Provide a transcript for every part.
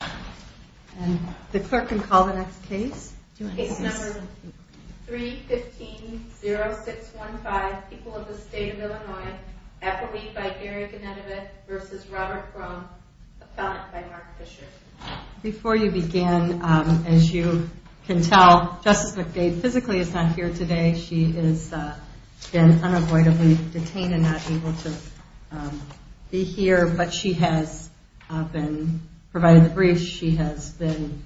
3-15-0615 People of the State of Illinois, Appleby v. Robert Gromm, Appellant v. Mark Fisher Before you begin, as you can tell, Justice McBade physically is not here today. She has been unavoidably detained and not able to be here. But she has provided the briefs, she has been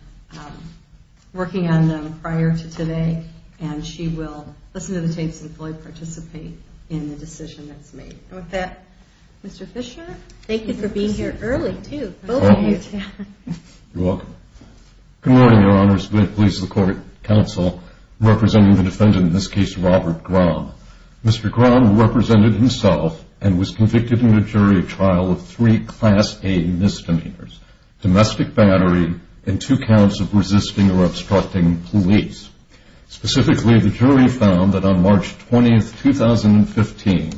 working on them prior to today, and she will listen to the tapes and fully participate in the decision that's made. And with that, Mr. Fisher, thank you for being here early, too. Thank you. You're welcome. Good morning, Your Honors, and may it please the Court and Counsel, representing the defendant in this case, Robert Gromm. Mr. Gromm represented himself and was convicted in a jury trial of three Class A misdemeanors, domestic battery and two counts of resisting or obstructing police. Specifically, the jury found that on March 20, 2015,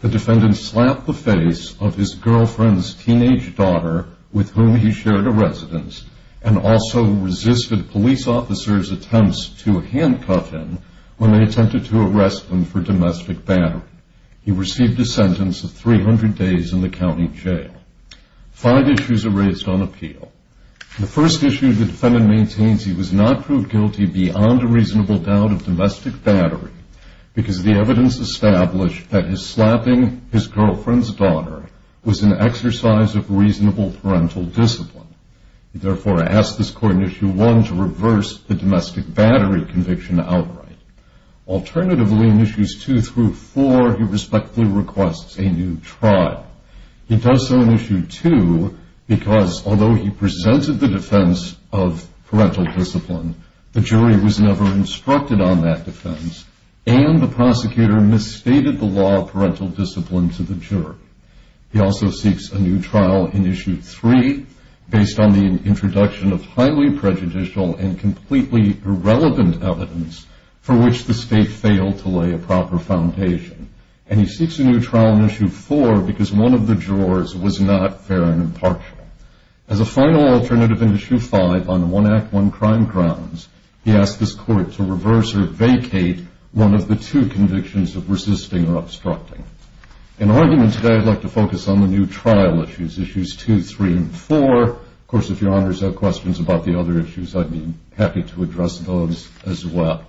the defendant slapped the face of his girlfriend's teenage daughter with whom he shared a residence and also resisted police officers' attempts to handcuff him when they attempted to arrest him for domestic battery. He received a sentence of 300 days in the county jail. Five issues are raised on appeal. The first issue, the defendant maintains he was not proved guilty beyond a reasonable doubt of domestic battery because the evidence established that his slapping his girlfriend's daughter was an exercise of reasonable parental discipline. Therefore, I ask this Court in Issue 1 to reverse the domestic battery conviction outright. Alternatively, in Issues 2 through 4, he respectfully requests a new trial. He does so in Issue 2 because although he presented the defense of parental discipline, the jury was never instructed on that defense and the prosecutor misstated the law of parental discipline to the jury. He also seeks a new trial in Issue 3 based on the introduction of highly prejudicial and completely irrelevant evidence for which the state failed to lay a proper foundation. And he seeks a new trial in Issue 4 because one of the jurors was not fair and impartial. As a final alternative in Issue 5 on one Act, one crime grounds, he asks this Court to reverse or vacate one of the two convictions of resisting or obstructing. In argument today, I'd like to focus on the new trial issues, Issues 2, 3, and 4. Of course, if your honors have questions about the other issues, I'd be happy to address those as well.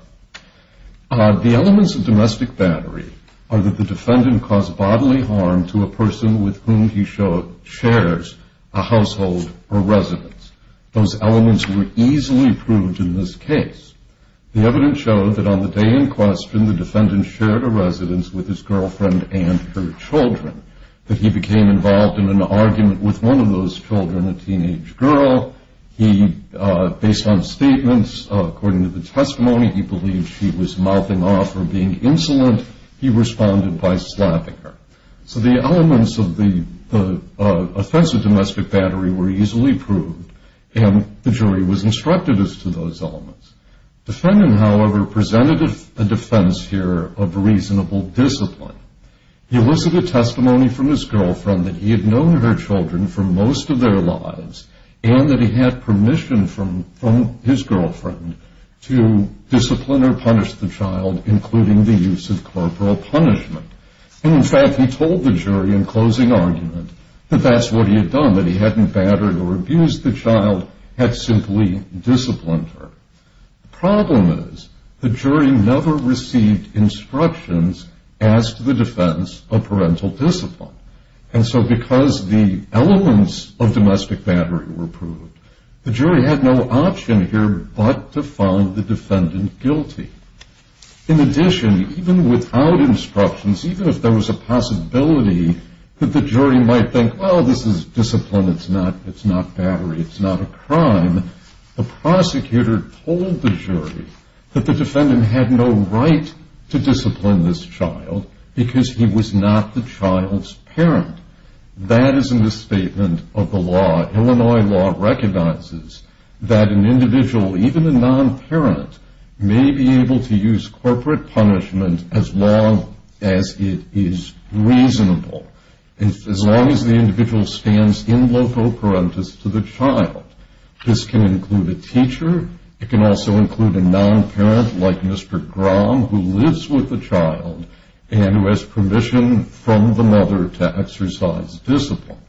The elements of domestic battery are that the defendant caused bodily harm to a person with whom he shares a household or residence. Those elements were easily proved in this case. The evidence showed that on the day in question, the defendant shared a residence with his girlfriend and her children, that he became involved in an argument with one of those children, a teenage girl. He, based on statements, according to the testimony, he believed she was mouthing off or being insolent. He responded by slapping her. So the elements of the offense of domestic battery were easily proved, and the jury was instructive as to those elements. The defendant, however, presented a defense here of reasonable discipline. He elicited testimony from his girlfriend that he had known her children for most of their lives, and that he had permission from his girlfriend to discipline or punish the child, including the use of corporal punishment. And, in fact, he told the jury in closing argument that that's what he had done, that he hadn't battered or abused the child, had simply disciplined her. The problem is the jury never received instructions as to the defense of parental discipline. And so because the elements of domestic battery were proved, the jury had no option here but to find the defendant guilty. In addition, even without instructions, even if there was a possibility that the jury might think, well, this is discipline, it's not battery, it's not a crime, the prosecutor told the jury that the defendant had no right to discipline this child because he was not the child's parent. That is a misstatement of the law. Illinois law recognizes that an individual, even a non-parent, may be able to use corporate punishment as long as it is reasonable. As long as the individual stands in loco parentis to the child. This can include a teacher. It can also include a non-parent, like Mr. Grom, who lives with the child and who has permission from the mother to exercise discipline.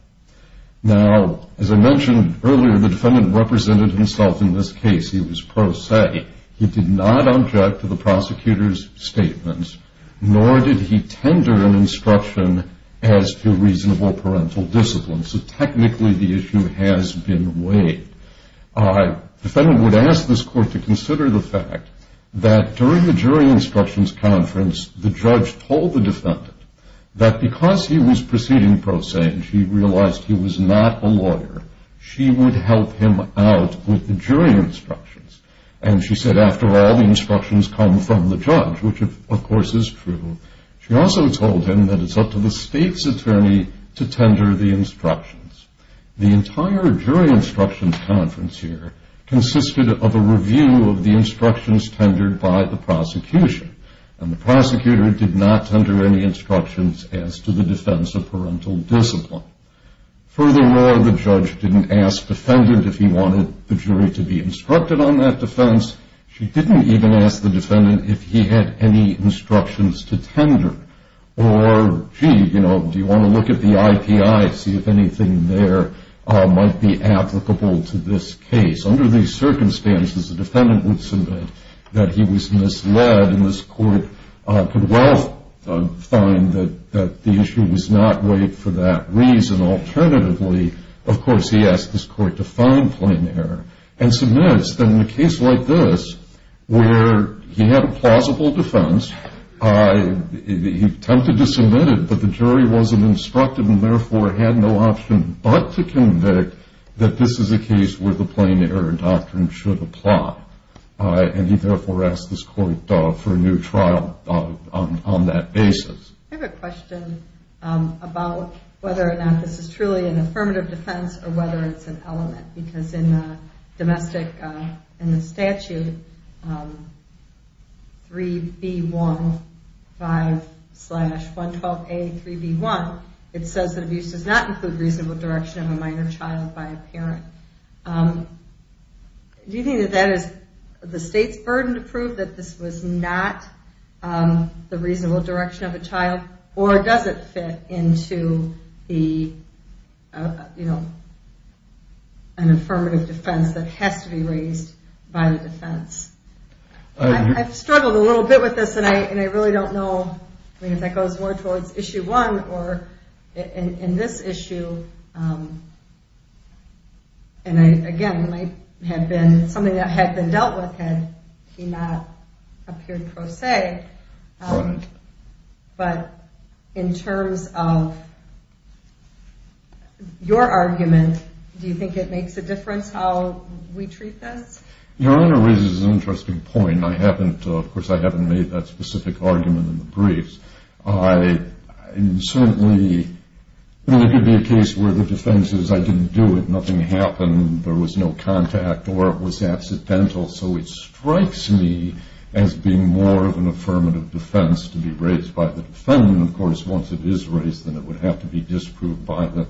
Now, as I mentioned earlier, the defendant represented himself in this case. He was pro se. He did not object to the prosecutor's statements, nor did he tender an instruction as to reasonable parental discipline. So technically the issue has been weighed. The defendant would ask this court to consider the fact that during the jury instructions conference, the judge told the defendant that because he was proceeding pro se and she realized he was not a lawyer, she would help him out with the jury instructions. And she said, after all, the instructions come from the judge, which of course is true. She also told him that it's up to the state's attorney to tender the instructions. The entire jury instructions conference here consisted of a review of the instructions tendered by the prosecution. And the prosecutor did not tender any instructions as to the defense of parental discipline. Furthermore, the judge didn't ask defendant if he wanted the jury to be instructed on that defense. She didn't even ask the defendant if he had any instructions to tender. Or, gee, you know, do you want to look at the IPI, see if anything there might be applicable to this case. Under these circumstances, the defendant would submit that he was misled, and this court could well find that the issue was not weighed for that reason. Alternatively, of course, he asked this court to find plain error and submits. Then in a case like this, where he had a plausible defense, he attempted to submit it, but the jury wasn't instructed and therefore had no option but to convict, that this is a case where the plain error doctrine should apply. And he therefore asked this court for a new trial on that basis. I have a question about whether or not this is truly an affirmative defense or whether it's an element. Because in the domestic, in the statute, 3B15-112A3B1, it says that abuse does not include reasonable direction of a minor child by a parent. Do you think that that is the state's burden to prove that this was not the reasonable direction of a child? Or does it fit into the, you know, an affirmative defense that has to be raised by the defense? I've struggled a little bit with this, and I really don't know. I mean, if that goes more towards issue one or in this issue, and again, it might have been something that had been dealt with had he not appeared pro se. Right. But in terms of your argument, do you think it makes a difference how we treat this? Your Honor raises an interesting point. I mean, I haven't, of course, I haven't made that specific argument in the briefs. I certainly, I mean, there could be a case where the defense is I didn't do it, nothing happened, there was no contact, or it was accidental. So it strikes me as being more of an affirmative defense to be raised by the defendant. Of course, once it is raised, then it would have to be disproved by the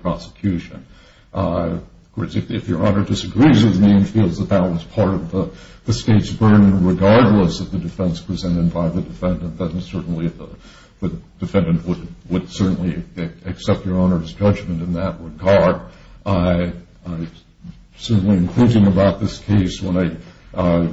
prosecution. Of course, if Your Honor disagrees with me and feels that that was part of the state's burden regardless of the defense presented by the defendant, then certainly the defendant would certainly accept Your Honor's judgment in that regard. Certainly, in thinking about this case, when I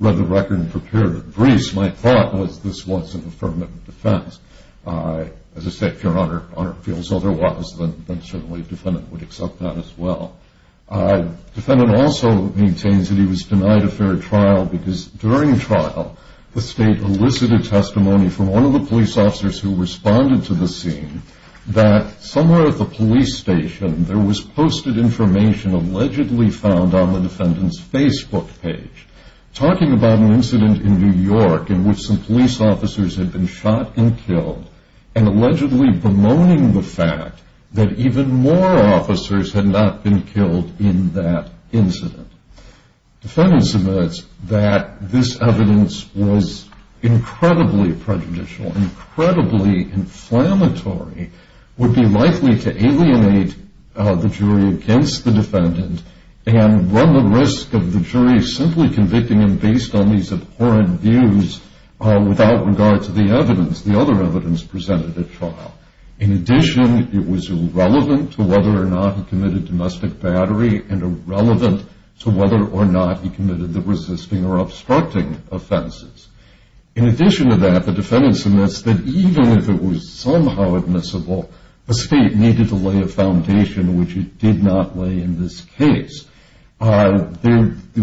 read the record and prepared the briefs, my thought was this was an affirmative defense. As I said, if Your Honor feels otherwise, then certainly the defendant would accept that as well. The defendant also maintains that he was denied a fair trial because during trial, the state elicited testimony from one of the police officers who responded to the scene that somewhere at the police station there was posted information allegedly found on the defendant's Facebook page talking about an incident in New York in which some police officers had been shot and killed and allegedly bemoaning the fact that even more officers had not been killed in that incident. The defendant submits that this evidence was incredibly prejudicial, incredibly inflammatory, would be likely to alienate the jury against the defendant and run the risk of the jury simply convicting him based on these abhorrent views without regard to the evidence, the other evidence presented at trial. In addition, it was irrelevant to whether or not he committed domestic battery and irrelevant to whether or not he committed the resisting or obstructing offenses. In addition to that, the defendant submits that even if it was somehow admissible, the state needed to lay a foundation which it did not lay in this case.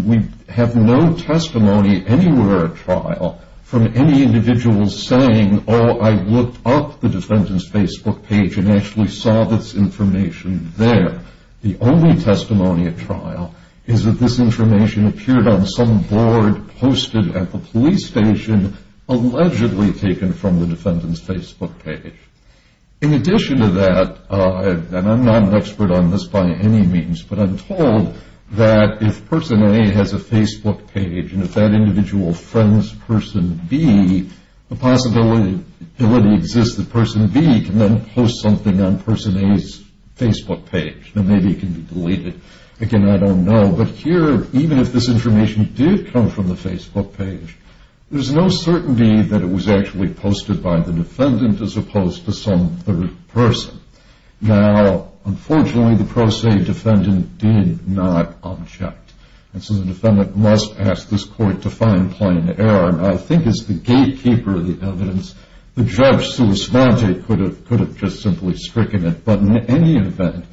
We have no testimony anywhere at trial from any individual saying, oh, I looked up the defendant's Facebook page and actually saw this information there. The only testimony at trial is that this information appeared on some board posted at the police station allegedly taken from the defendant's Facebook page. In addition to that, and I'm not an expert on this by any means, but I'm told that if person A has a Facebook page and if that individual friends person B, the possibility exists that person B can then post something on person A's Facebook page. Now, maybe it can be deleted. Again, I don't know. But here, even if this information did come from the Facebook page, there's no certainty that it was actually posted by the defendant as opposed to some third person. Now, unfortunately, the pro se defendant did not object. And so the defendant must pass this court to find plain error. And I think as the gatekeeper of the evidence, the judge who responded could have just simply stricken it. But in any event,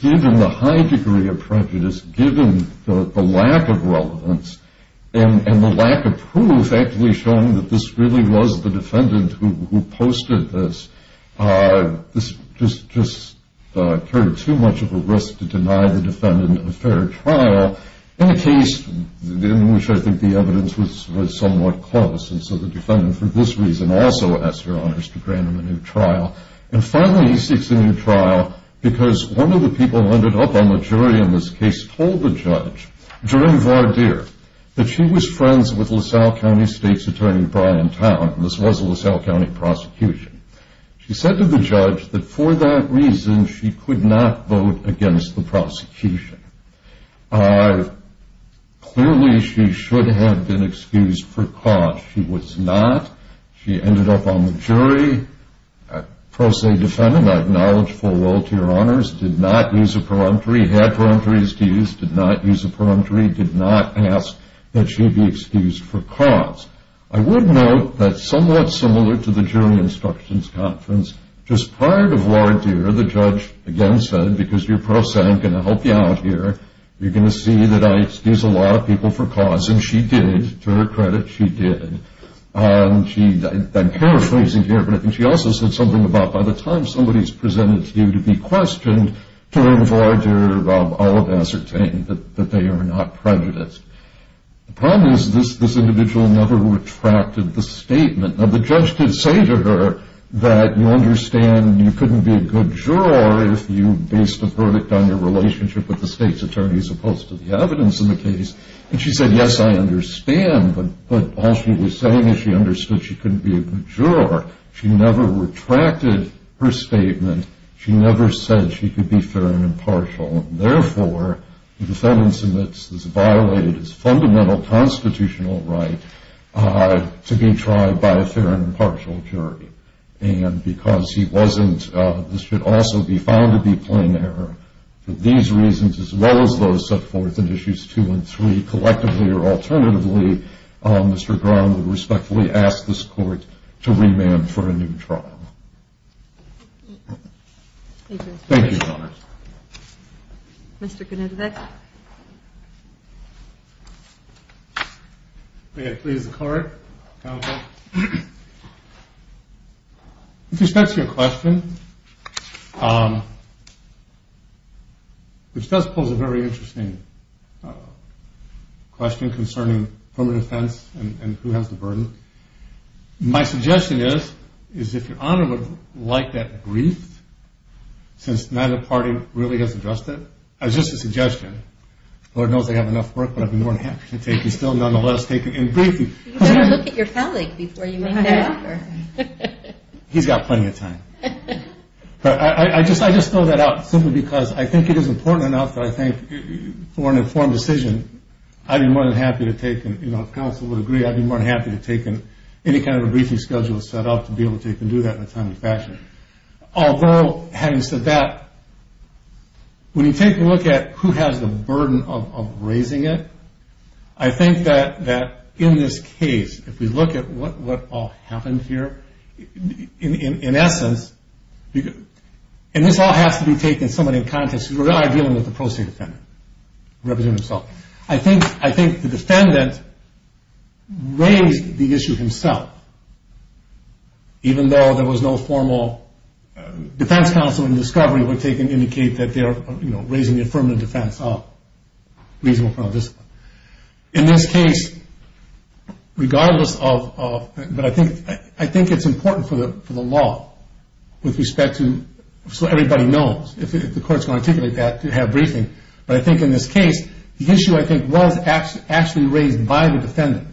given the high degree of prejudice, given the lack of relevance and the lack of proof actually showing that this really was the defendant who posted this, this just carried too much of a risk to deny the defendant a fair trial, in a case in which I think the evidence was somewhat close. And so the defendant, for this reason, also asked Your Honors to grant him a new trial. And finally, he seeks a new trial because one of the people who ended up on the jury in this case told the judge, during Vardir, that she was friends with LaSalle County State's Attorney Brian Towne. This was a LaSalle County prosecution. She said to the judge that for that reason she could not vote against the prosecution. Clearly, she should have been excused for cause. She was not. She ended up on the jury. A pro se defendant, I acknowledge full well to Your Honors, did not use a preliminary. He had preliminaries to use, did not use a preliminary, did not ask that she be excused for cause. I would note that somewhat similar to the jury instructions conference, just prior to Vardir, the judge again said, because you're pro se, I'm going to help you out here. You're going to see that I excuse a lot of people for cause. And she did. To her credit, she did. I'm paraphrasing here, but I think she also said something about, by the time somebody is presented to you to be questioned, to her in Vardir, I would ascertain that they are not prejudiced. The problem is this individual never retracted the statement. Now, the judge did say to her that you understand you couldn't be a good juror if you based a verdict on your relationship with the state's attorney as opposed to the evidence in the case. And she said, yes, I understand, but all she was saying is she understood she couldn't be a good juror. She never retracted her statement. She never said she could be fair and impartial. Therefore, the defendant submits this violated his fundamental constitutional right to be tried by a fair and impartial jury. And because he wasn't, this should also be found to be plain error. For these reasons, as well as those set forth in Issues 2 and 3, collectively or alternatively, Mr. Gron would respectfully ask this Court to remand for a new trial. Thank you, Your Honor. Mr. Gnodzik. May I please the Court? Counsel. With respect to your question, which does pose a very interesting question concerning permanent offense and who has the burden, my suggestion is, is if Your Honor would like that briefed, since neither party really has addressed it, as just a suggestion, the Lord knows they have enough work, but I'd be more than happy to take you still, nonetheless, You better look at your phallic before you make that offer. He's got plenty of time. But I just throw that out simply because I think it is important enough that I think for an informed decision, I'd be more than happy to take, and counsel would agree, I'd be more than happy to take any kind of a briefing schedule set up to be able to do that in a timely fashion. Although, having said that, when you take a look at who has the burden of raising it, I think that in this case, if we look at what all happened here, in essence, and this all has to be taken somewhat in context because we're dealing with a pro se defendant representing himself. I think the defendant raised the issue himself, even though there was no formal defense counsel in discovery would indicate that they are raising the affirmative defense of reasonable criminal discipline. In this case, regardless of, but I think it's important for the law with respect to, so everybody knows, if the court is going to articulate that, to have a briefing, but I think in this case, the issue I think was actually raised by the defendant,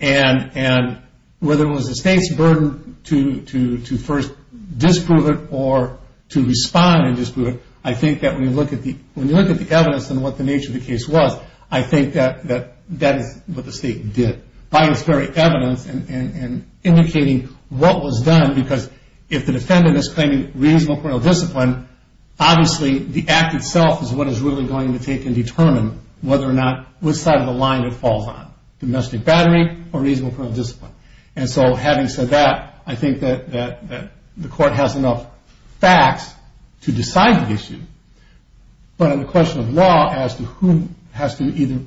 and whether it was the state's burden to first disprove it or to respond and disprove it, I think that when you look at the evidence and what the nature of the case was, I think that that is what the state did by its very evidence and indicating what was done because if the defendant is claiming reasonable criminal discipline, obviously the act itself is what is really going to take and determine whether or not, which side of the line it falls on, domestic battery or reasonable criminal discipline. And so having said that, I think that the court has enough facts to decide the issue, but on the question of law as to who has to either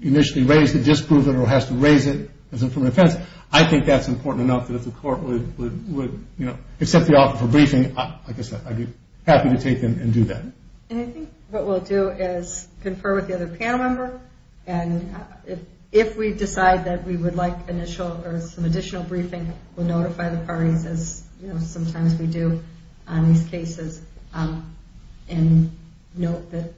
initially raise the disproval or has to raise it as affirmative defense, I think that's important enough that if the court would accept the offer for briefing, I guess I'd be happy to take them and do that. And I think what we'll do is confer with the other panel member, and if we decide that we would like initial or some additional briefing, we'll notify the parties as sometimes we do on these cases and note that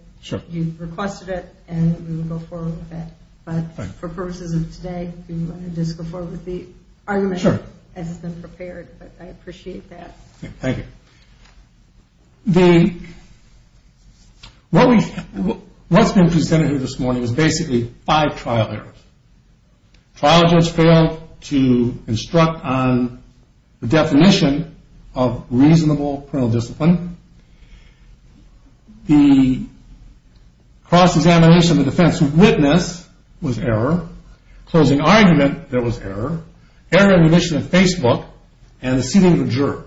you've requested it, and we will go forward with that. But for purposes of today, we want to just go forward with the argument as it's been prepared, but I appreciate that. Thank you. What's been presented here this morning is basically five trial errors. Trial judge failed to instruct on the definition of reasonable criminal discipline. The cross-examination of the defense witness was error. Closing argument, there was error. Error in remission of Facebook and the seating of a juror.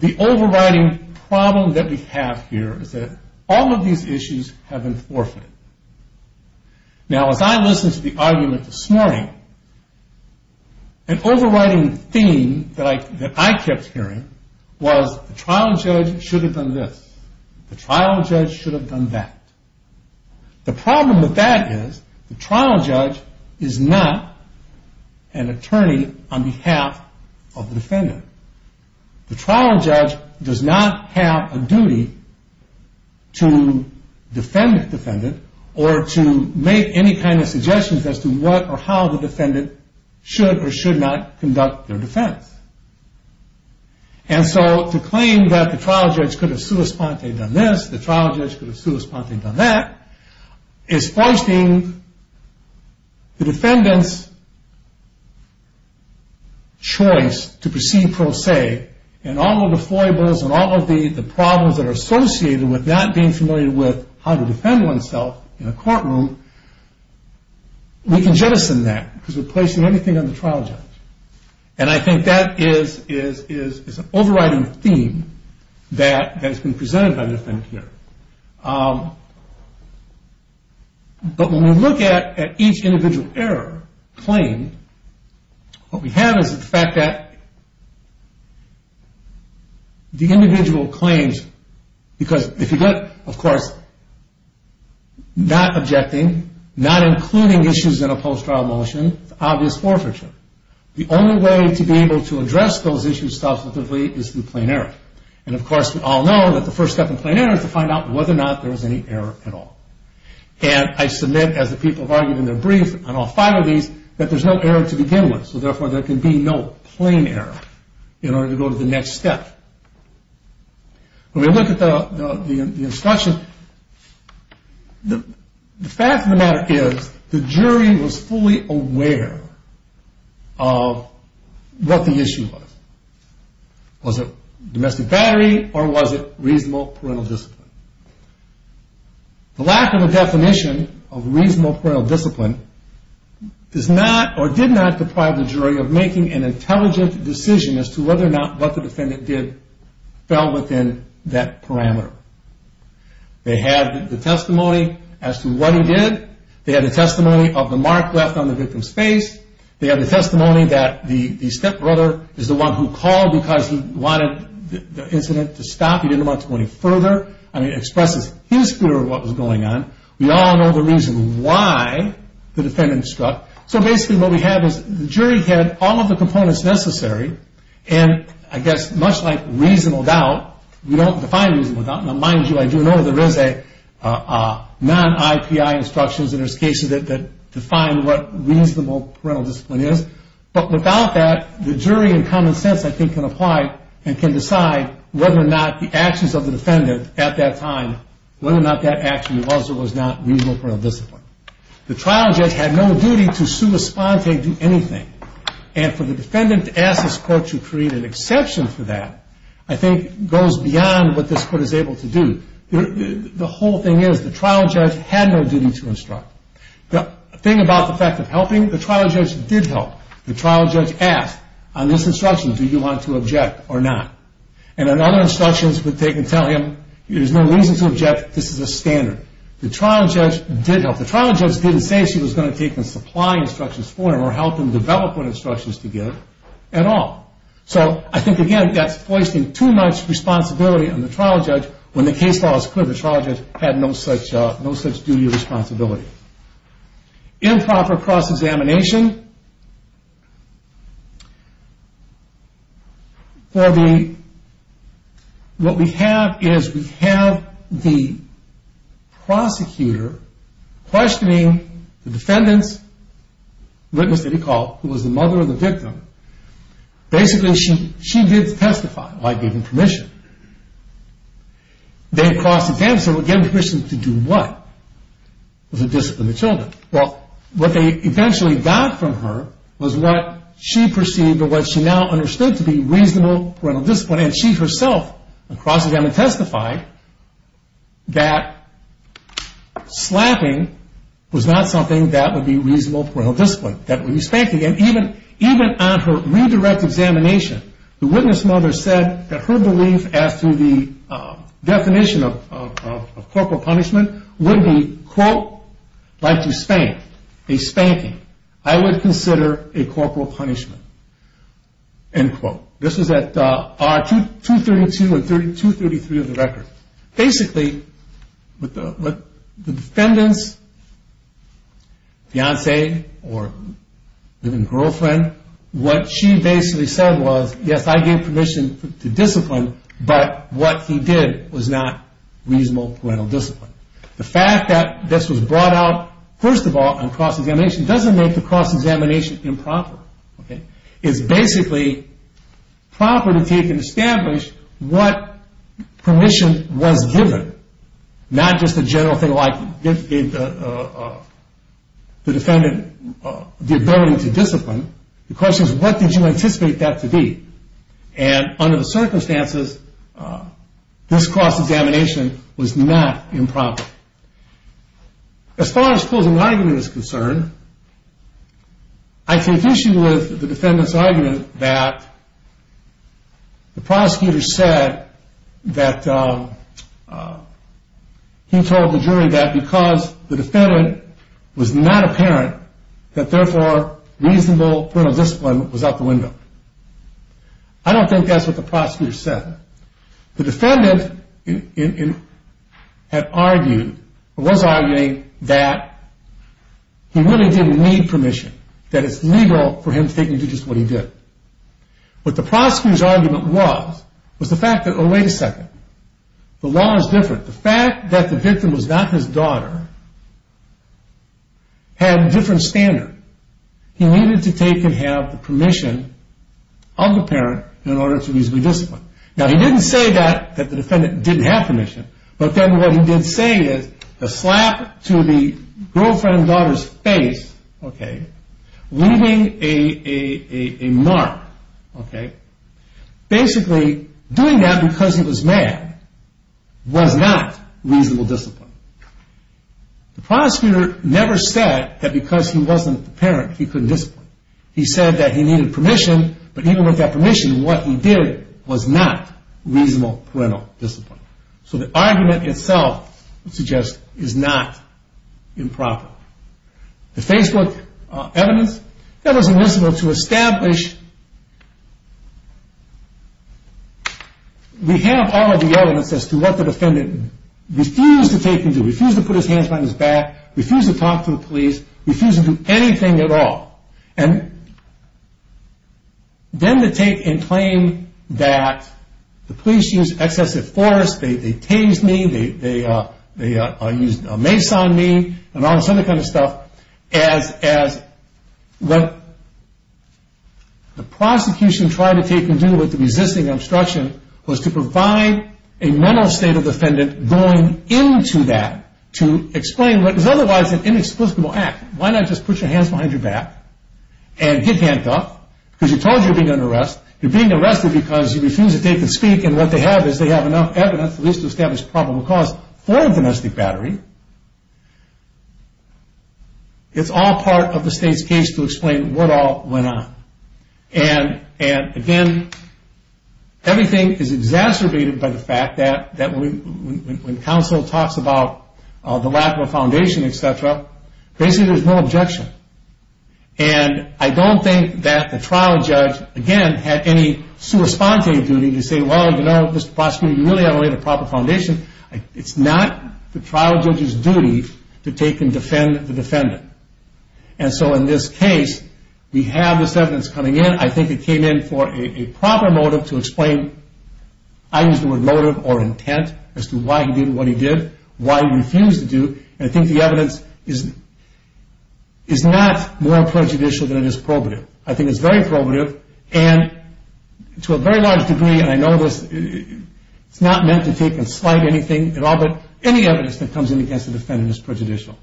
The overriding problem that we have here is that all of these issues have been forfeited. Now, as I listened to the argument this morning, an overriding theme that I kept hearing was the trial judge should have done this. The trial judge should have done that. The problem with that is the trial judge is not an attorney on behalf of the defendant. The trial judge does not have a duty to defend the defendant or to make any kind of suggestions as to what or how the defendant should or should not conduct their defense. And so to claim that the trial judge could have sui sponte done this, the trial judge could have sui sponte done that, is forcing the defendant's choice to proceed pro se. And all of the foibles and all of the problems that are associated with not being familiar with how to defend oneself in a courtroom, we can jettison that because we're placing anything on the trial judge. And I think that is an overriding theme that has been presented by the defendant here. But when we look at each individual error claimed, what we have is the fact that the individual claims, because if you look, of course, not objecting, not including issues in a post-trial motion, it's obvious forfeiture. The only way to be able to address those issues substantively is through plain error. And, of course, we all know that the first step in plain error is to find out whether or not there was any error at all. And I submit, as the people have argued in their brief on all five of these, that there's no error to begin with. So, therefore, there can be no plain error in order to go to the next step. When we look at the instruction, the fact of the matter is the jury was fully aware of what the issue was. Was it domestic battery or was it reasonable parental discipline? The lack of a definition of reasonable parental discipline did not deprive the jury of making an intelligent decision as to whether or not what the defendant did fell within that parameter. They had the testimony as to what he did. They had the testimony of the mark left on the victim's face. They had the testimony that the stepbrother is the one who called because he wanted the incident to stop. He didn't want it to go any further. I mean, it expresses his fear of what was going on. We all know the reason why the defendant struck. So, basically, what we have is the jury had all of the components necessary. And, I guess, much like reasonable doubt, we don't define reasonable doubt. Now, mind you, I do know there is a non-IPI instructions in this case that define what reasonable parental discipline is. But, without that, the jury in common sense, I think, can apply and can decide whether or not the actions of the defendant at that time, whether or not that action was or was not reasonable parental discipline. And, for the defendant to ask this court to create an exception for that, I think, goes beyond what this court is able to do. The whole thing is the trial judge had no duty to instruct. The thing about the fact of helping, the trial judge did help. The trial judge asked on this instruction, do you want to object or not? And, on other instructions, they can tell him, there is no reason to object, this is a standard. The trial judge did help. The trial judge didn't say she was going to take and supply instructions for him or help him develop what instructions to give at all. So, I think, again, that's placing too much responsibility on the trial judge when the case law is clear. The trial judge had no such duty or responsibility. Improper cross-examination. For the, what we have is we have the prosecutor questioning the defendant's witness that he called, who was the mother of the victim. Basically, she did testify by giving permission. Then, cross-examination, so again, permission to do what? To discipline the children. Well, what they eventually got from her was what she perceived or what she now understood to be reasonable parental discipline. And she herself, on cross-examination, testified that slapping was not something that would be reasonable parental discipline, that would be spanking. And even on her redirect examination, the witness mother said that her belief as to the definition of corporal punishment would be, quote, like to spank, a spanking. I would consider a corporal punishment, end quote. This was at R232 and R233 of the record. Basically, the defendant's fiance or girlfriend, what she basically said was, yes, I gave permission to discipline, but what he did was not reasonable parental discipline. The fact that this was brought out, first of all, on cross-examination doesn't make the cross-examination improper. It's basically proper to take and establish what permission was given, not just a general thing like the defendant the ability to discipline. The question is, what did you anticipate that to be? And under the circumstances, this cross-examination was not improper. As far as closing argument is concerned, I take issue with the defendant's argument that the prosecutor said that he told the jury that because the defendant was not a parent that, therefore, reasonable parental discipline was out the window. I don't think that's what the prosecutor said. The defendant had argued or was arguing that he really didn't need permission, that it's legal for him to take and do just what he did. What the prosecutor's argument was, was the fact that, oh, wait a second, the law is different. The fact that the victim was not his daughter had a different standard. He needed to take and have the permission of the parent in order to reasonably discipline. Now, he didn't say that the defendant didn't have permission, but then what he did say is a slap to the girlfriend daughter's face, leaving a mark. Basically, doing that because he was mad was not reasonable discipline. The prosecutor never said that because he wasn't the parent, he couldn't discipline. He said that he needed permission, but even with that permission, what he did was not reasonable parental discipline. So the argument itself would suggest is not improper. The Facebook evidence, that was illicit to establish we have all of the evidence as to what the defendant refused to take and do, refused to put his hands behind his back, refused to talk to the police, refused to do anything at all. Then to take and claim that the police used excessive force, they tased me, they used a mace on me, and all this other kind of stuff as what the prosecution tried to take and do with the resisting obstruction was to provide a mental state of the defendant going into that to explain what is otherwise an inexplicable act. Why not just put your hands behind your back and get handcuffed because you're told you're being under arrest. You're being arrested because you refuse to take and speak and what they have is they have enough evidence at least to establish probable cause for a domestic battery. It's all part of the state's case to explain what all went on. And again, everything is exacerbated by the fact that when counsel talks about the lack of a foundation, etc., basically there's no objection. And I don't think that the trial judge, again, had any sui sponte duty to say, well, you know, Mr. Prosecutor, you really haven't laid a proper foundation. It's not the trial judge's duty to take and defend the defendant. And so in this case, we have this evidence coming in. I think it came in for a proper motive to explain I use the word motive or intent as to why he did what he did, why he refused to do. And I think the evidence is not more prejudicial than it is probative. I think it's very probative and to a very large degree, and I know this, it's not meant to take and slight anything at all, but any evidence that comes in against the defendant is prejudicial.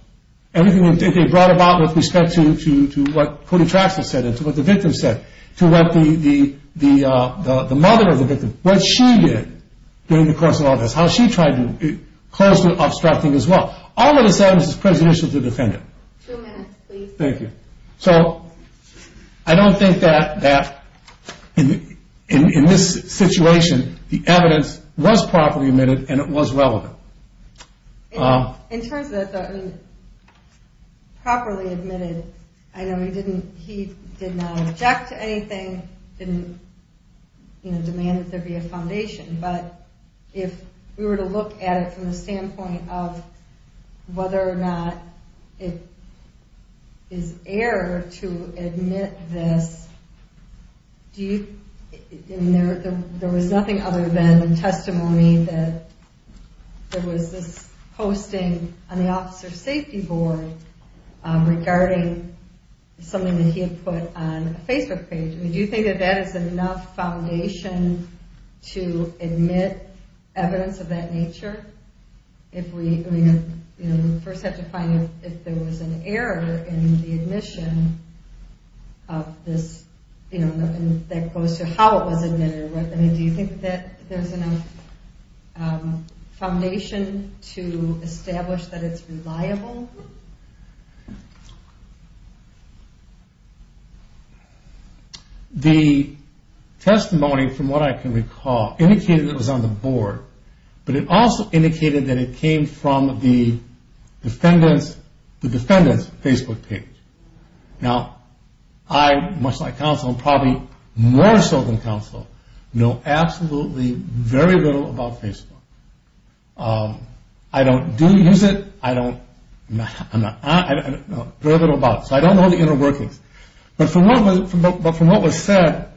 Everything that they brought about with respect to what Cody Traxler said, to what the victim said, to what the mother of the victim, what she did during the course of all this, how she tried to close the obstructing as well. All of this evidence is prejudicial to the defendant. So I don't think that in this situation, the evidence was properly admitted and it was relevant. In terms of the properly admitted, he did not object to anything, didn't demand that there be a foundation, but if we were to look at it from the standpoint of whether or not it is error to admit this, there was nothing other than testimony that there was this posting on the officer's safety board regarding something that he had put on a Facebook page. Do you think that that is enough foundation to admit evidence of that nature? If there was an error in the admission of this, that goes to how it was admitted, do you think that there's enough foundation to establish that it's reliable? The testimony, from what I can recall, indicated it was on the board, but it also indicated that it came from the defendant's Facebook page. Now, I, much like counsel, probably more so than counsel, know absolutely very little about Facebook. I don't do use it, I don't, I don't know very little about it, so I don't know the inner workings, but from what was said,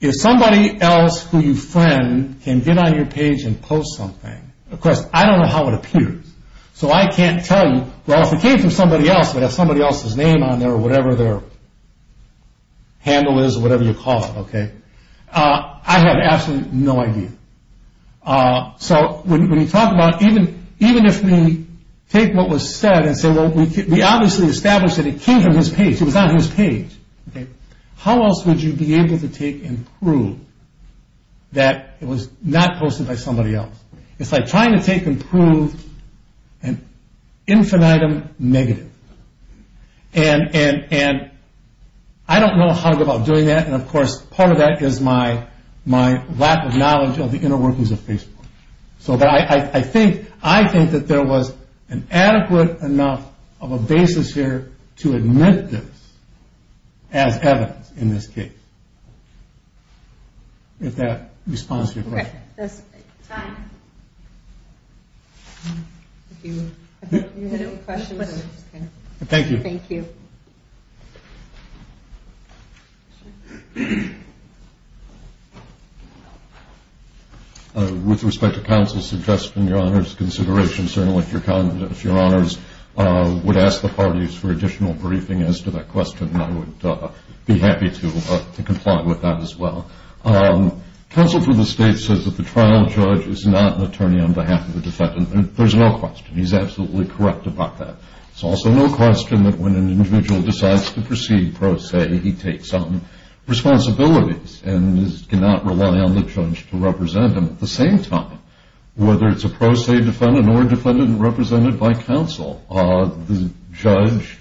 if somebody else who you friend can get on your page and post something, of course, I don't know how it appears, so I can't tell you, but if it came from somebody else that has somebody else's name on there or whatever their handle is or whatever you call it, I have absolutely no idea. When you talk about, even if we take what was said and say, well, we obviously established that it came from his page, it was on his page, how else would you be able to take and prove that it was not posted by somebody else? It's like trying to take and prove an infinitum negative. And I don't know how to go about doing that, and of course, part of that is my lack of knowledge of the inner workings of Facebook. So I think that there was an adequate enough of a basis here to admit this as evidence in this case. If that responds to your question. Time. Thank you. With respect to counsel's suggestion, your Honor's consideration, certainly if your Honor's would ask the parties for additional briefing as to that question, I would be happy to The trial judge is not an attorney on behalf of the defendant. There's no question. He's absolutely correct about that. There's also no question that when an individual decides to proceed pro se, he takes on responsibilities and cannot rely on the judge to represent him. At the same time, whether it's a pro se defendant or a defendant represented by counsel, the judge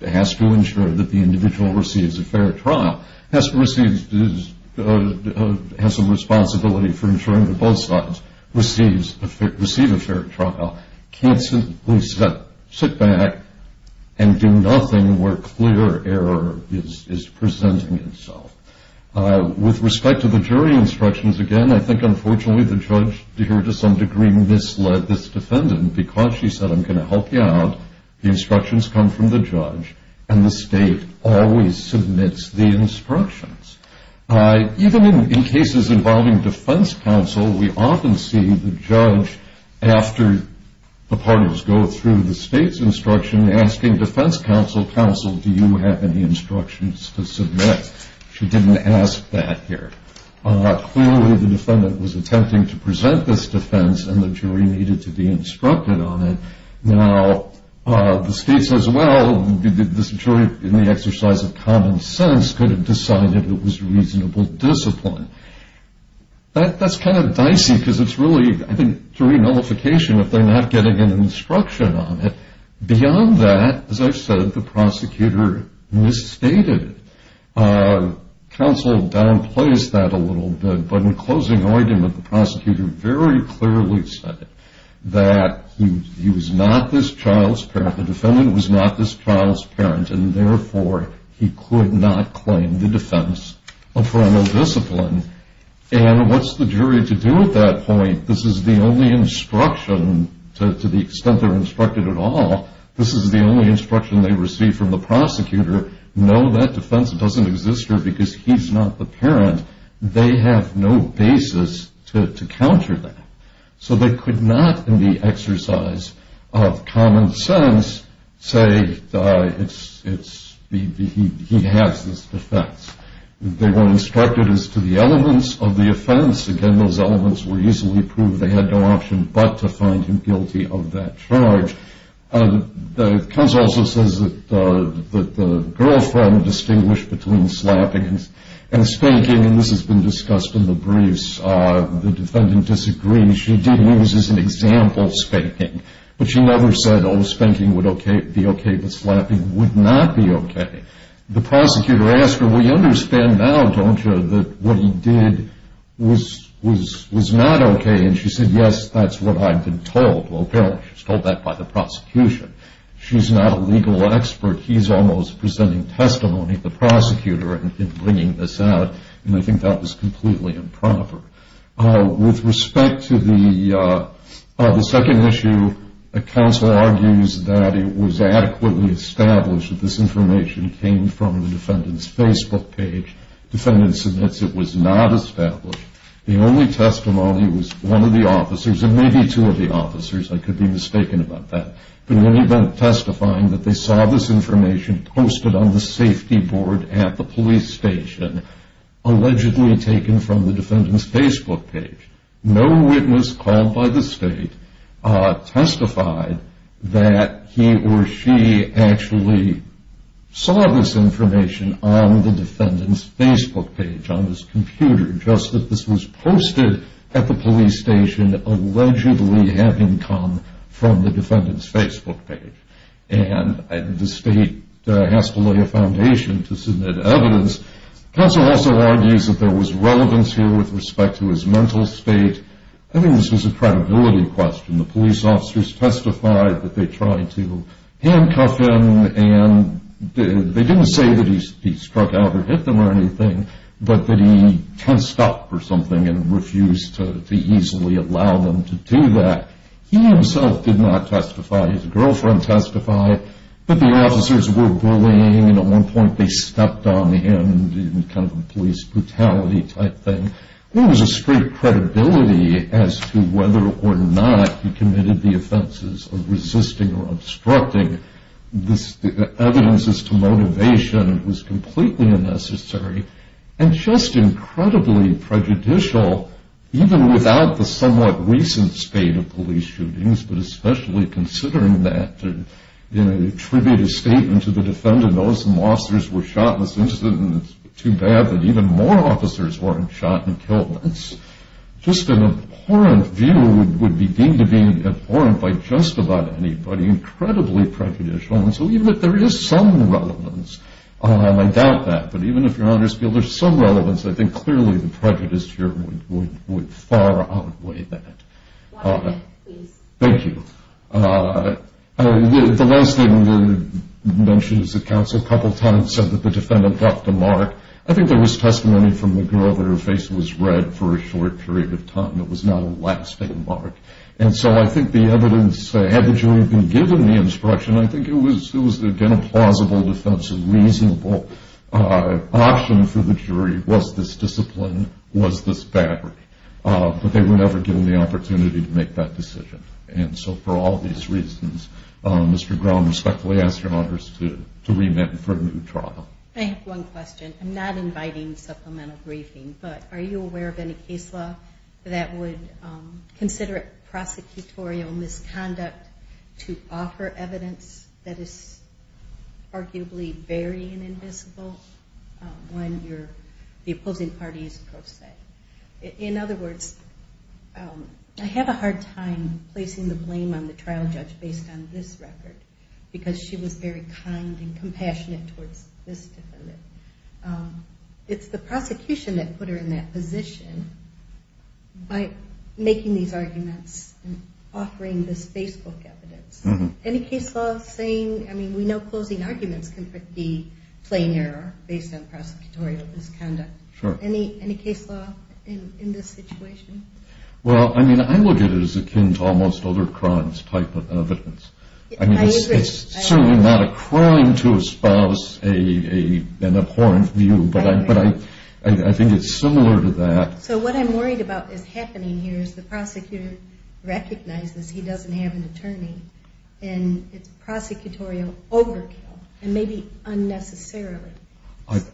has to ensure that the individual receives a fair trial, has some responsibility for ensuring that both sides receive a fair trial, can't simply sit back and do nothing where clear error is presenting itself. With respect to the jury instructions, again, I think unfortunately the judge here to some degree misled this defendant because she said I'm going to help you out. The instructions come from the judge and the state always submits the instructions. Even in cases involving defense counsel, we often see the judge, after the parties go through the state's instruction, asking defense counsel, counsel, do you have any instructions to submit? She didn't ask that here. Clearly the defendant was misled. Now, the state says, well, this jury in the exercise of common sense could have decided it was reasonable discipline. That's kind of dicey because it's really, I think, jury nullification if they're not getting an instruction on it. Beyond that, as I've said, the prosecutor misstated it. Counsel downplayed that a little bit, but in closing argument the prosecutor very clearly said that he was not this child's parent. The defendant was not this child's parent and therefore he could not claim the defense of criminal discipline. And what's the jury to do at that point? This is the only instruction, to the extent they're instructed at all, this is the only instruction they receive from the prosecutor. No, that defense doesn't exist here because he's not the parent. They have no basis to counter that. So they could not, in the exercise of common sense, say he has this defense. They were instructed as to the elements of the offense. Again, those elements were easily proved. They had no option but to find him guilty of that charge. The counsel also says that the girlfriend distinguished between slapping and spanking, and this has been discussed in the briefs. The defendant disagreed. She did use as an example spanking, but she never said, oh, spanking would be okay, but slapping would not be okay. The prosecutor asked her, well, you understand now, don't you, that what he did was not okay? And she said, yes, that's what I've been told. Well, apparently she was told that by the prosecution. She's not a legal expert. He's almost presenting testimony to the prosecutor in bringing this out, and I think that was completely improper. With respect to the second issue, the counsel argues that it was adequately established that this information came from the defendant's Facebook page. No witness called by the state testified that he or she actually saw this information on the defendant's Facebook page, just that this was posted at the police station, allegedly having come from the defendant's Facebook page, and the state has to lay a foundation to submit evidence. The counsel also argues that there was relevance here with respect to his mental state. I think this was a credibility question. The police officers testified that they tried to handcuff him, and they didn't say that he struck out or hit them or anything, but that he tensed up or something and refused to easily allow them to do that. He himself did not testify. His girlfriend testified, but the officers were bullying, and at one point they stepped on him in kind of a police brutality type thing. There was a straight credibility as to whether or not he committed the offenses of resisting or obstructing. This evidence as to motivation was completely unnecessary, and just incredibly prejudicial, even without the somewhat recent state of police shootings, but especially considering that, to attribute a statement to the defendant, those officers were shot in this incident, and it's too bad that even more officers weren't shot and killed. Just an abhorrent view would be deemed to be abhorrent by just about anybody. Incredibly prejudicial, and so even if there is some relevance, I doubt that, but even if your honors feel there's some relevance, I think clearly the prejudice here would far outweigh that. Thank you. The last thing we mentioned is that counsel a couple of times said that the defendant left a mark. I think there was testimony from the girl that her face was red for a short period of time. It was not a lasting mark, and so I think the evidence, had the jury been given the instruction, I think it was, again, a plausible defense, a reasonable option for the jury, was this discipline, was this battery, but they were never given the opportunity to make that decision, and so for all these reasons, Mr. Grom, I respectfully ask your honors to remit for a new trial. I have one question. I'm not inviting supplemental briefing, but are you aware of any case law that would consider it prosecutorial misconduct to offer evidence that is arguably very inadmissible when the opposing party is pro se? In other words, I have a hard time placing the blame on the trial judge based on this record, because she was very kind and compassionate towards this defendant. It's the prosecution that put her in that position by making these arguments and offering this Facebook evidence. Any case law saying, I mean, we know closing arguments can be plain error based on prosecutorial misconduct. Sure. Any case law in this situation? Well, I mean, I look at it as akin to almost other crimes type of evidence. I mean, it's certainly not a crime to espouse an abhorrent view, but I think it's similar to that. So what I'm worried about is happening here is the prosecutor recognizes he doesn't have an attorney, and it's prosecutorial overkill, and maybe unnecessarily.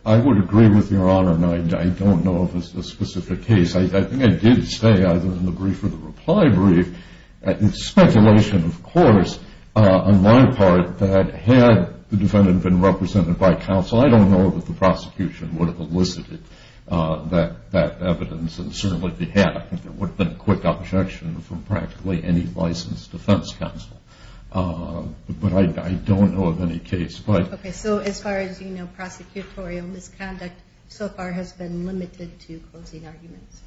I would agree with Your Honor, and I don't know of a specific case. I think I did say, either in the brief or the reply brief, it's speculation of course, on my part, that had the defendant been represented by counsel, I don't know that the prosecution would have elicited that evidence and certainly if they had, I think there would have been a quick objection from practically any licensed defense counsel. But I don't know of any case. Okay, so as far as you know, prosecutorial misconduct so far has been limited to closing arguments.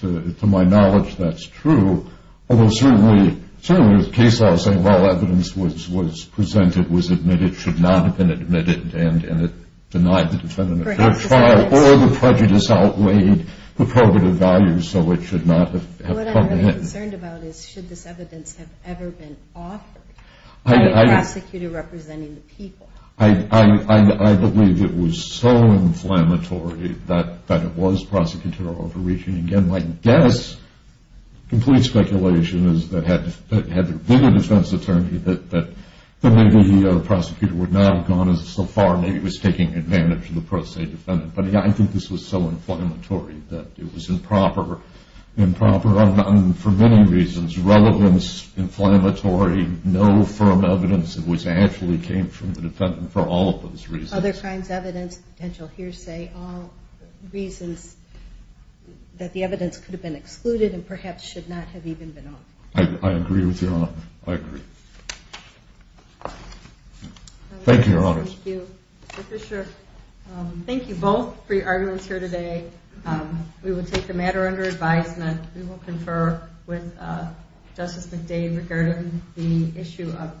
To my knowledge, that's true, although certainly there's case law saying all evidence presented was admitted, should not have been admitted, and it denied the defendant a fair trial, or the prejudice outweighed the probative value, so it should not have come in. What I'm really concerned about is should this evidence have ever been offered by a prosecutor representing the people? I believe it was so inflammatory that it was prosecutorial overreaching. Again, my guess, complete speculation is that had there been a defense attorney that maybe the prosecutor would not have gone so far, maybe he was taking advantage of the pro se defendant. But I think this was so inflammatory that it was improper for many reasons. Relevance, inflammatory, no firm evidence that actually came from the defendant for all of those reasons. Other crimes, evidence, potential hearsay, all reasons that the evidence could have been excluded and perhaps should not have even been offered. I agree with you on that. I agree. Thank you, Your Honors. Thank you, Mr. Fisher. Thank you both for your arguments here today. We will take the matter under advisement. We will confer with Justice McDade regarding the issue of the